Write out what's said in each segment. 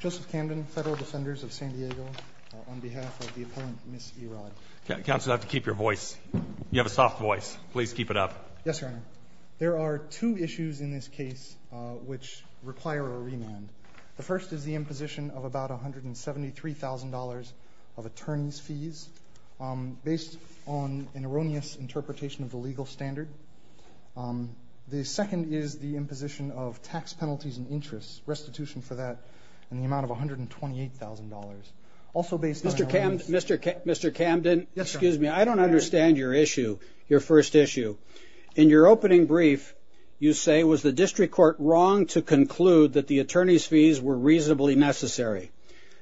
Joseph Camden, Federal Defenders of San Diego, on behalf of the opponent, Ms. Eyraud. Counsel, I have to keep your voice. You have a soft voice. Please keep it up. Yes, Your Honor. There are two issues in this case which require a remand. The first is the imposition of about $173,000 of attorney's fees based on an erroneous interpretation of the legal standard. The second is the imposition of tax penalties and interest restitution for that in the amount of $128,000. Also based on an erroneous- Mr. Camden- Yes, Your Honor. Excuse me. I don't understand your issue, your first issue. In your opening brief, you say, was the district court wrong to conclude that the attorney's fees were reasonably necessary?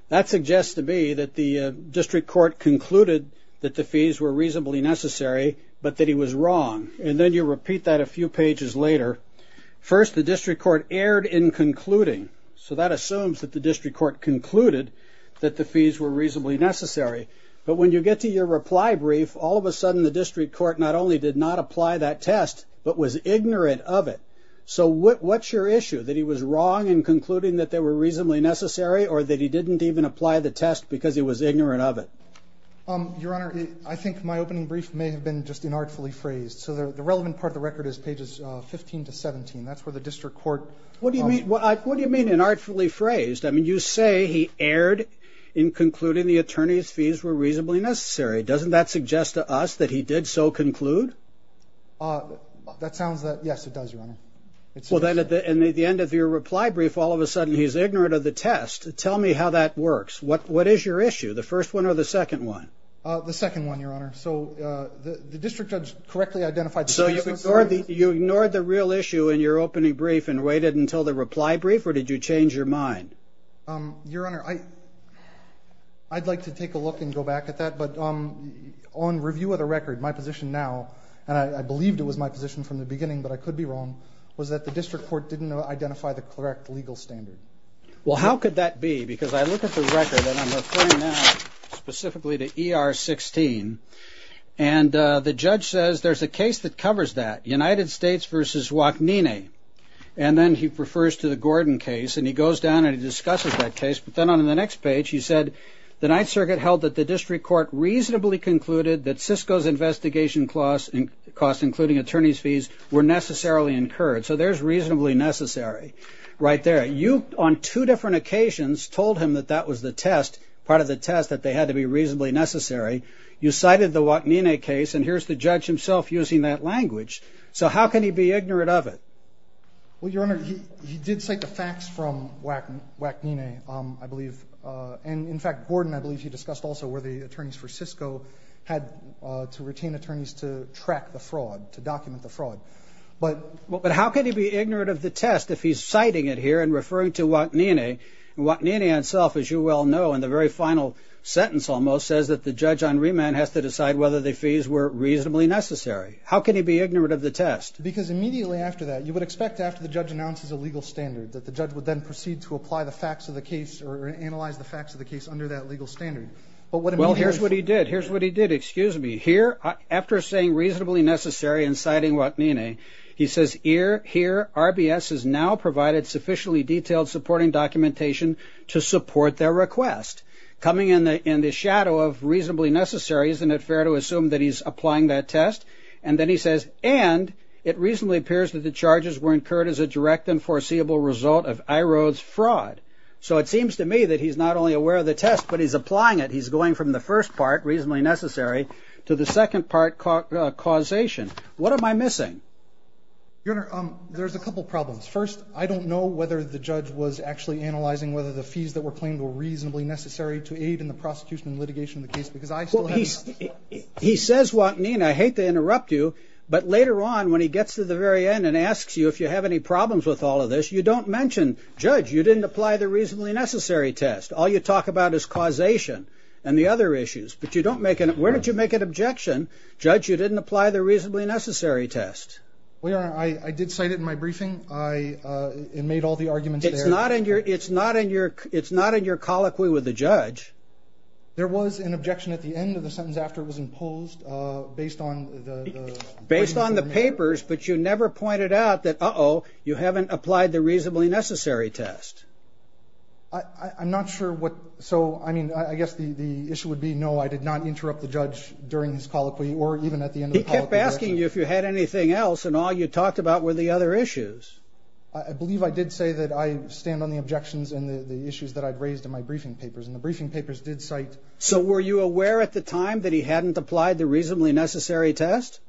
That suggests to me that the district court concluded that the fees were reasonably necessary, but that he was wrong. And then you repeat that a few pages later. First, the district court erred in concluding. So that assumes that the district court concluded that the fees were reasonably necessary. But when you get to your reply brief, all of a sudden the district court not only did not apply that test, but was ignorant of it. So what's your issue? That he was wrong in concluding that they were reasonably necessary or that he didn't even apply the test because he was ignorant of it? Your Honor, I think my opening brief may have been just inartfully phrased. So the relevant part of the record is pages 15 to 17. That's where the district court- What do you mean inartfully phrased? I mean, you say he erred in concluding the attorney's fees were reasonably necessary. Doesn't that suggest to us that he did so conclude? That sounds that- yes, it does, Your Honor. Well, then at the end of your reply brief, all of a sudden he's ignorant of the test. Tell me how that works. What is your issue? The first one or the second one? The second one, Your Honor. So the district judge correctly identified- So you ignored the real issue in your opening brief and waited until the reply brief? Or did you change your mind? Your Honor, I'd like to take a look and go back at that. But on review of the record, my position now, and I believed it was my position from the beginning but I could be wrong, was that the district court didn't identify the correct legal standard. Well, how could that be? Because I look at the record, and I'm referring now specifically to ER 16, and the judge says there's a case that covers that, United States v. Wachneney. And then he refers to the Gordon case, and he goes down and he discusses that case. But then on the next page he said the Ninth Circuit held that the district court reasonably concluded that Cisco's investigation costs, including attorney's fees, were necessarily incurred. So there's reasonably necessary right there. You, on two different occasions, told him that that was the test, part of the test, that they had to be reasonably necessary. You cited the Wachneney case, and here's the judge himself using that language. So how can he be ignorant of it? Well, Your Honor, he did cite the facts from Wachneney, I believe. And, in fact, Gordon, I believe he discussed also where the attorneys for Cisco But how can he be ignorant of the test if he's citing it here and referring to Wachneney? Wachneney himself, as you well know, in the very final sentence almost, says that the judge on remand has to decide whether the fees were reasonably necessary. How can he be ignorant of the test? Because immediately after that, you would expect after the judge announces a legal standard, that the judge would then proceed to apply the facts of the case or analyze the facts of the case under that legal standard. Well, here's what he did. Here's what he did. Excuse me. Here, after saying reasonably necessary and citing Wachneney, he says here RBS has now provided sufficiently detailed supporting documentation to support their request. Coming in the shadow of reasonably necessary, isn't it fair to assume that he's applying that test? And then he says, and it reasonably appears that the charges were incurred as a direct and foreseeable result of Irode's fraud. So it seems to me that he's not only aware of the test, but he's applying it. He's going from the first part, reasonably necessary, to the second part, causation. What am I missing? Your Honor, there's a couple problems. First, I don't know whether the judge was actually analyzing whether the fees that were claimed were reasonably necessary to aid in the prosecution and litigation of the case because I still have... He says Wachneney, and I hate to interrupt you, but later on when he gets to the very end and asks you if you have any problems with all of this, you don't mention, judge, you didn't apply the reasonably necessary test. All you talk about is causation and the other issues, but you don't make an... Where did you make an objection, judge, you didn't apply the reasonably necessary test? Well, Your Honor, I did cite it in my briefing. I made all the arguments there. It's not in your colloquy with the judge. There was an objection at the end of the sentence after it was imposed based on the... Based on the papers, but you never pointed out that, uh-oh, you haven't applied the reasonably necessary test. I'm not sure what... So, I mean, I guess the issue would be, no, I did not interrupt the judge during his colloquy or even at the end of the colloquy. He kept asking you if you had anything else, and all you talked about were the other issues. I believe I did say that I stand on the objections and the issues that I'd raised in my briefing papers, and the briefing papers did cite... So were you aware at the time that he hadn't applied the reasonably necessary test?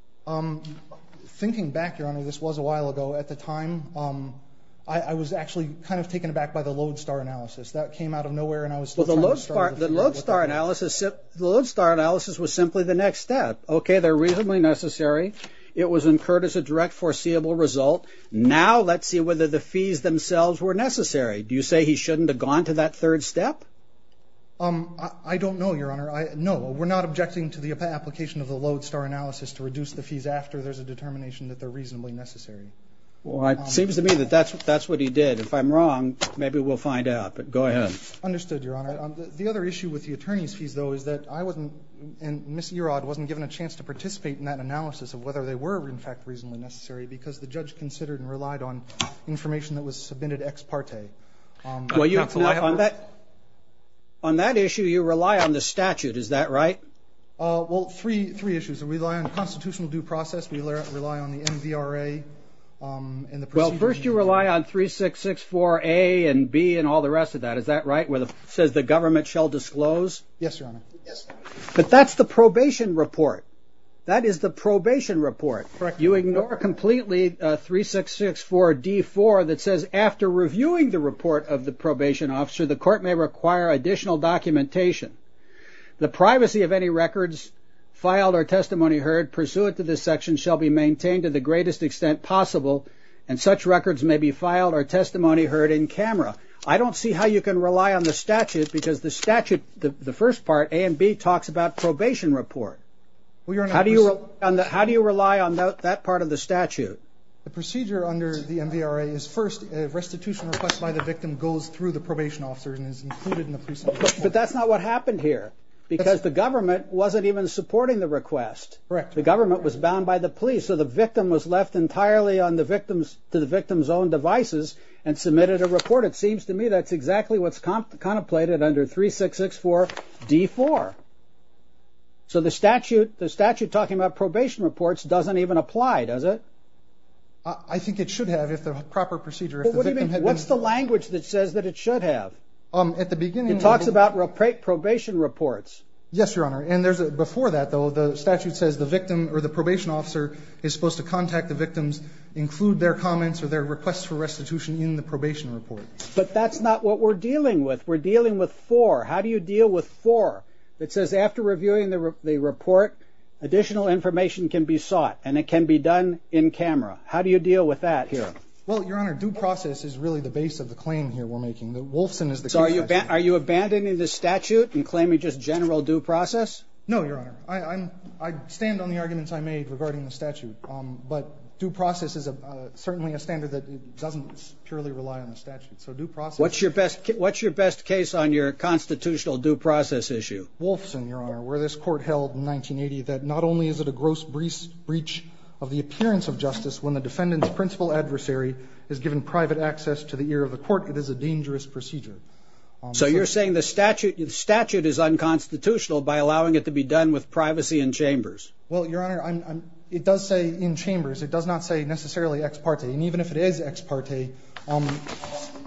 Thinking back, Your Honor, this was a while ago. At the time, I was actually kind of taken aback by the Lodestar analysis. That came out of nowhere, and I was... Well, the Lodestar analysis was simply the next step. Okay, they're reasonably necessary. It was incurred as a direct foreseeable result. Now let's see whether the fees themselves were necessary. Do you say he shouldn't have gone to that third step? I don't know, Your Honor. No, we're not objecting to the application of the Lodestar analysis to reduce the fees after there's a determination that they're reasonably necessary. Well, it seems to me that that's what he did. If I'm wrong, maybe we'll find out. But go ahead. Understood, Your Honor. The other issue with the attorney's fees, though, is that I wasn't, and Ms. Erod, wasn't given a chance to participate in that analysis of whether they were, in fact, reasonably necessary because the judge considered and relied on information that was submitted ex parte. Well, on that issue, you rely on the statute. Is that right? Well, three issues. We rely on the constitutional due process. We rely on the MVRA and the procedure. Well, first you rely on 3664A and B and all the rest of that. Is that right, where it says the government shall disclose? Yes, Your Honor. But that's the probation report. That is the probation report. Correct. You ignore completely 3664D4 that says after reviewing the report of the probation officer, the court may require additional documentation. The privacy of any records filed or testimony heard pursuant to this section shall be maintained to the greatest extent possible, and such records may be filed or testimony heard in camera. I don't see how you can rely on the statute because the statute, the first part, A and B, talks about probation report. How do you rely on that part of the statute? The procedure under the MVRA is first a restitution request by the victim goes through the probation officer and is included in the precinct report. But that's not what happened here because the government wasn't even supporting the request. Correct. The government was bound by the police, so the victim was left entirely to the victim's own devices and submitted a report. It seems to me that's exactly what's contemplated under 3664D4. So the statute talking about probation reports doesn't even apply, does it? I think it should have if the proper procedure of the victim had been informed. What's the language that says that it should have? It talks about probation reports. Yes, Your Honor, and before that, though, the statute says the victim or the probation officer is supposed to contact the victims, include their comments or their requests for restitution in the probation report. But that's not what we're dealing with. We're dealing with 4. How do you deal with 4? It says after reviewing the report, additional information can be sought, and it can be done in camera. How do you deal with that here? Well, Your Honor, due process is really the base of the claim here we're making. That Wolfson is the case. So are you abandoning the statute and claiming just general due process? No, Your Honor. I stand on the arguments I made regarding the statute. But due process is certainly a standard that doesn't purely rely on the statute. So due process – What's your best case on your constitutional due process issue? Wolfson, Your Honor, where this Court held in 1980 that not only is it a gross breach of the appearance of justice when the defendant's principal adversary is given private access to the ear of the court, it is a dangerous procedure. So you're saying the statute is unconstitutional by allowing it to be done with privacy in chambers? Well, Your Honor, it does say in chambers. It does not say necessarily ex parte. And even if it is ex parte,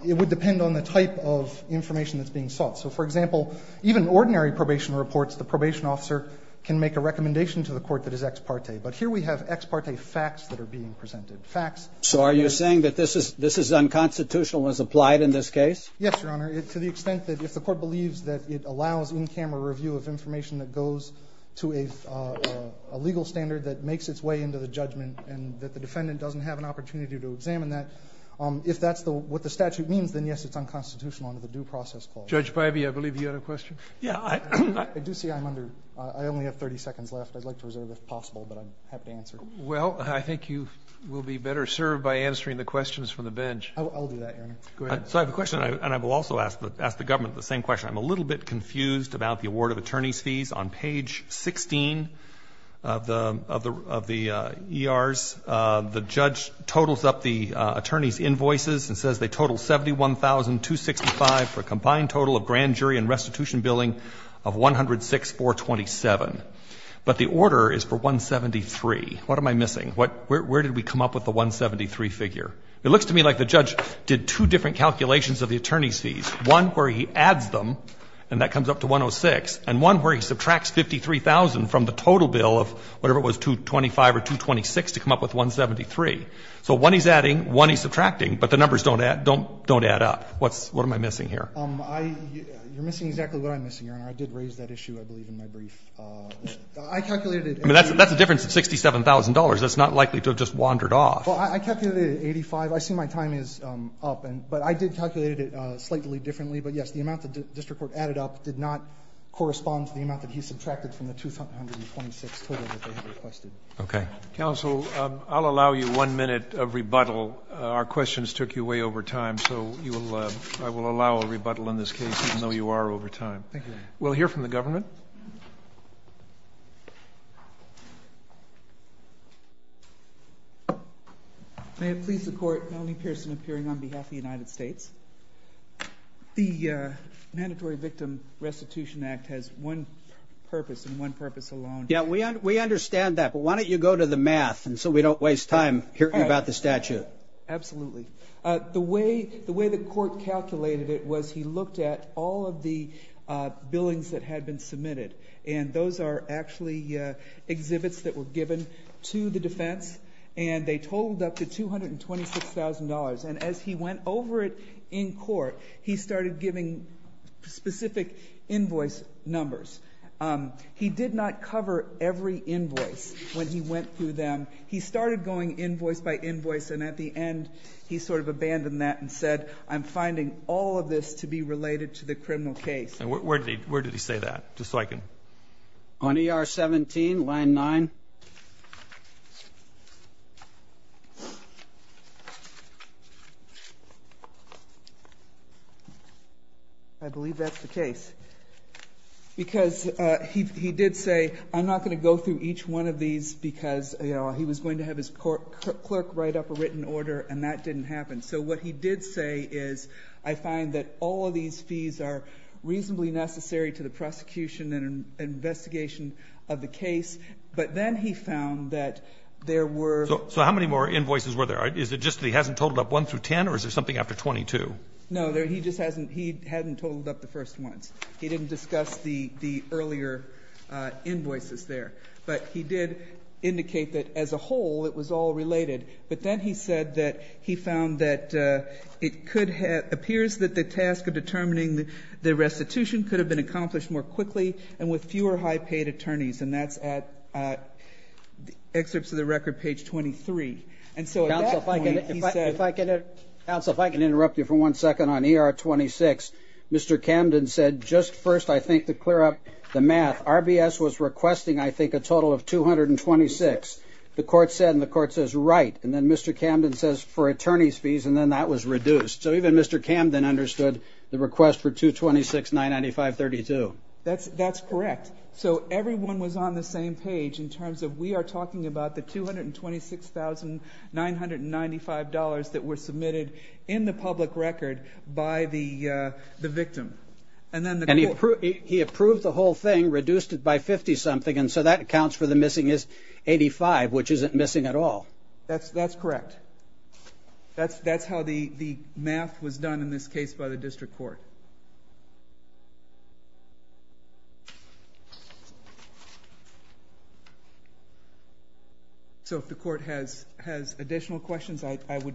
it would depend on the type of information that's being sought. So, for example, even ordinary probation reports, the probation officer can make a recommendation to the court that is ex parte. But here we have ex parte facts that are being presented. So are you saying that this is unconstitutional as applied in this case? Yes, Your Honor. To the extent that if the Court believes that it allows in-camera review of information that goes to a legal standard that makes its way into the judgment and that the defendant doesn't have an opportunity to examine that, if that's what the statute means, then, yes, it's unconstitutional under the due process clause. Judge Breybe, I believe you had a question. Yeah. I do see I'm under – I only have 30 seconds left. I'd like to reserve if possible, but I'm happy to answer. Well, I think you will be better served by answering the questions from the bench. I'll do that, Your Honor. Go ahead. So I have a question, and I will also ask the government the same question. I'm a little bit confused about the award of attorney's fees. On page 16 of the ERs, the judge totals up the attorney's invoices and says they total $71,265 for a combined total of grand jury and restitution billing of 106,427. But the order is for 173. What am I missing? Where did we come up with the 173 figure? It looks to me like the judge did two different calculations of the attorney's fees, one where he adds them, and that comes up to 106, and one where he subtracts 53,000 from the total bill of whatever it was, 225 or 226, to come up with 173. So one he's adding, one he's subtracting, but the numbers don't add up. What am I missing here? You're missing exactly what I'm missing, Your Honor. I did raise that issue, I believe, in my brief. I calculated it. I mean, that's a difference of $67,000. That's not likely to have just wandered off. Well, I calculated it at 85. I assume my time is up. But I did calculate it slightly differently. But, yes, the amount the district court added up did not correspond to the amount that he subtracted from the 226 total that they had requested. Okay. Counsel, I'll allow you one minute of rebuttal. Our questions took you way over time, so you will – I will allow a rebuttal Thank you, Your Honor. We'll hear from the government. Thank you. May it please the Court, Melanie Pearson appearing on behalf of the United States. The Mandatory Victim Restitution Act has one purpose and one purpose alone. Yeah, we understand that. But why don't you go to the math so we don't waste time hearing about the statute. Absolutely. The way the court calculated it was he looked at all of the billings that had been submitted. And those are actually exhibits that were given to the defense. And they totaled up to $226,000. And as he went over it in court, he started giving specific invoice numbers. He did not cover every invoice when he went through them. He started going invoice by invoice. And at the end, he sort of abandoned that and said, I'm finding all of this to be related to the criminal case. Where did he say that? Just so I can – On ER 17, line 9. I believe that's the case. Because he did say, I'm not going to go through each one of these because he was going to have his clerk write up a written order, and that didn't happen. So what he did say is, I find that all of these fees are reasonably necessary to the prosecution and investigation of the case. But then he found that there were – So how many more invoices were there? Is it just that he hasn't totaled up 1 through 10, or is there something after 22? No, he just hasn't – he hadn't totaled up the first ones. He didn't discuss the earlier invoices there. But he did indicate that as a whole, it was all related. But then he said that he found that it could have – appears that the task of determining the restitution could have been accomplished more quickly and with fewer high-paid attorneys. And that's at excerpts of the record, page 23. And so at that point, he said – Counsel, if I can interrupt you for one second on ER 26. Mr. Camden said, just first, I think, to clear up the math, that RBS was requesting, I think, a total of 226. The court said, and the court says, right. And then Mr. Camden says for attorneys' fees, and then that was reduced. So even Mr. Camden understood the request for 226,995.32. That's correct. So everyone was on the same page in terms of we are talking about the $226,995 that were submitted in the public record by the victim. And he approved the whole thing, reduced it by 50-something, and so that accounts for the missing 85, which isn't missing at all. That's correct. That's how the math was done in this case by the district court. So if the court has additional questions, I would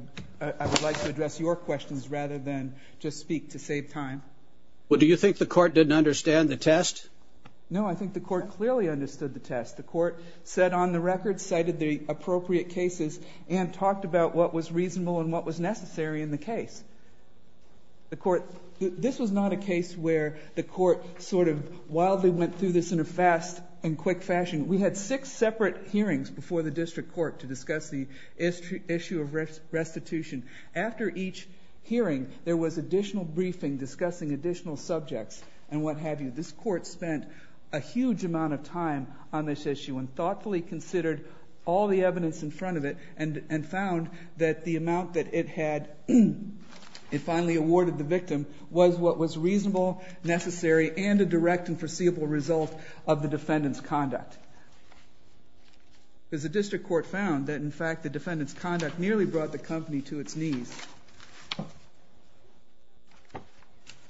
like to address your questions rather than just speak to save time. Well, do you think the court didn't understand the test? No, I think the court clearly understood the test. The court set on the record, cited the appropriate cases, and talked about what was reasonable and what was necessary in the case. This was not a case where the court sort of wildly went through this in a fast and quick fashion. We had six separate hearings before the district court to discuss the issue of restitution. After each hearing, there was additional briefing discussing additional subjects and what have you. This court spent a huge amount of time on this issue and thoughtfully considered all the evidence in front of it and found that the amount that it had finally awarded the victim was what was reasonable, necessary, and a direct and foreseeable result of the defendant's conduct. Because the district court found that, in fact, the defendant's conduct nearly brought the company to its knees.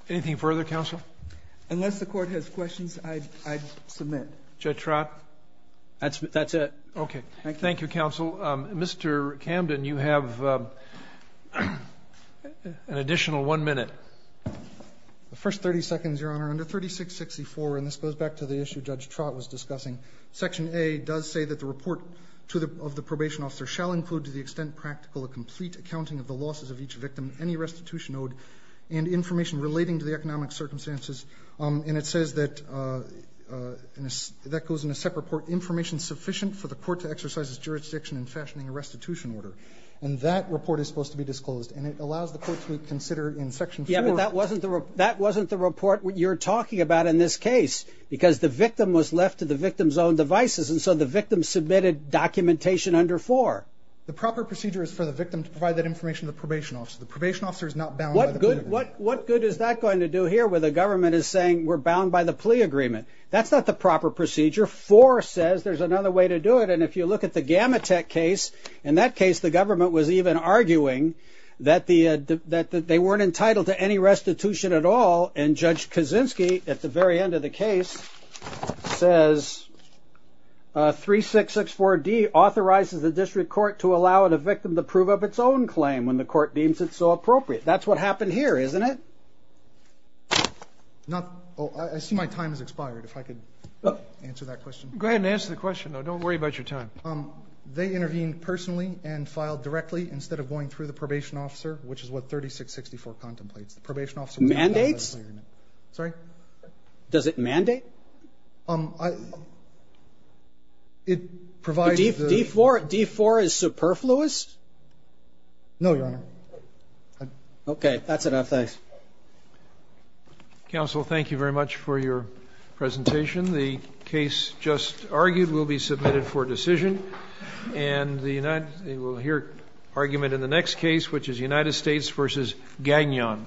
Anything further, counsel? Unless the court has questions, I submit. Judge Trott, that's it. Okay. Thank you, counsel. Mr. Camden, you have an additional one minute. The first 30 seconds, Your Honor. Under 3664, and this goes back to the issue Judge Trott was discussing, Section A does say that the report of the probation officer shall include, to the extent practical, a complete accounting of the losses of each victim, any restitution owed, and information relating to the economic circumstances. And it says that that goes in a separate report, information sufficient for the court to exercise its jurisdiction in fashioning a restitution order. And that report is supposed to be disclosed, and it allows the court to consider in Section 4. Yeah, but that wasn't the report you're talking about in this case because the victim was left to the victim's own devices, and so the victim submitted documentation under 4. The proper procedure is for the victim to provide that information to the probation officer. The probation officer is not bound by the plea agreement. What good is that going to do here where the government is saying, we're bound by the plea agreement? That's not the proper procedure. 4 says there's another way to do it. And if you look at the Gamatek case, in that case the government was even arguing that they weren't entitled to any restitution at all, and Judge Kaczynski at the very end of the case says 3664D authorizes the district court to allow the victim to prove of its own claim when the court deems it so appropriate. That's what happened here, isn't it? I see my time has expired. If I could answer that question. Go ahead and answer the question, though. Don't worry about your time. They intervened personally and filed directly instead of going through the probation officer, which is what 3664 contemplates. Mandates? Sorry? Does it mandate? It provides the... D4 is superfluous? No, Your Honor. Okay. That's enough. Thanks. Counsel, thank you very much for your presentation. The case just argued will be submitted for decision. And we'll hear argument in the next case, which is United States v. Gagnon.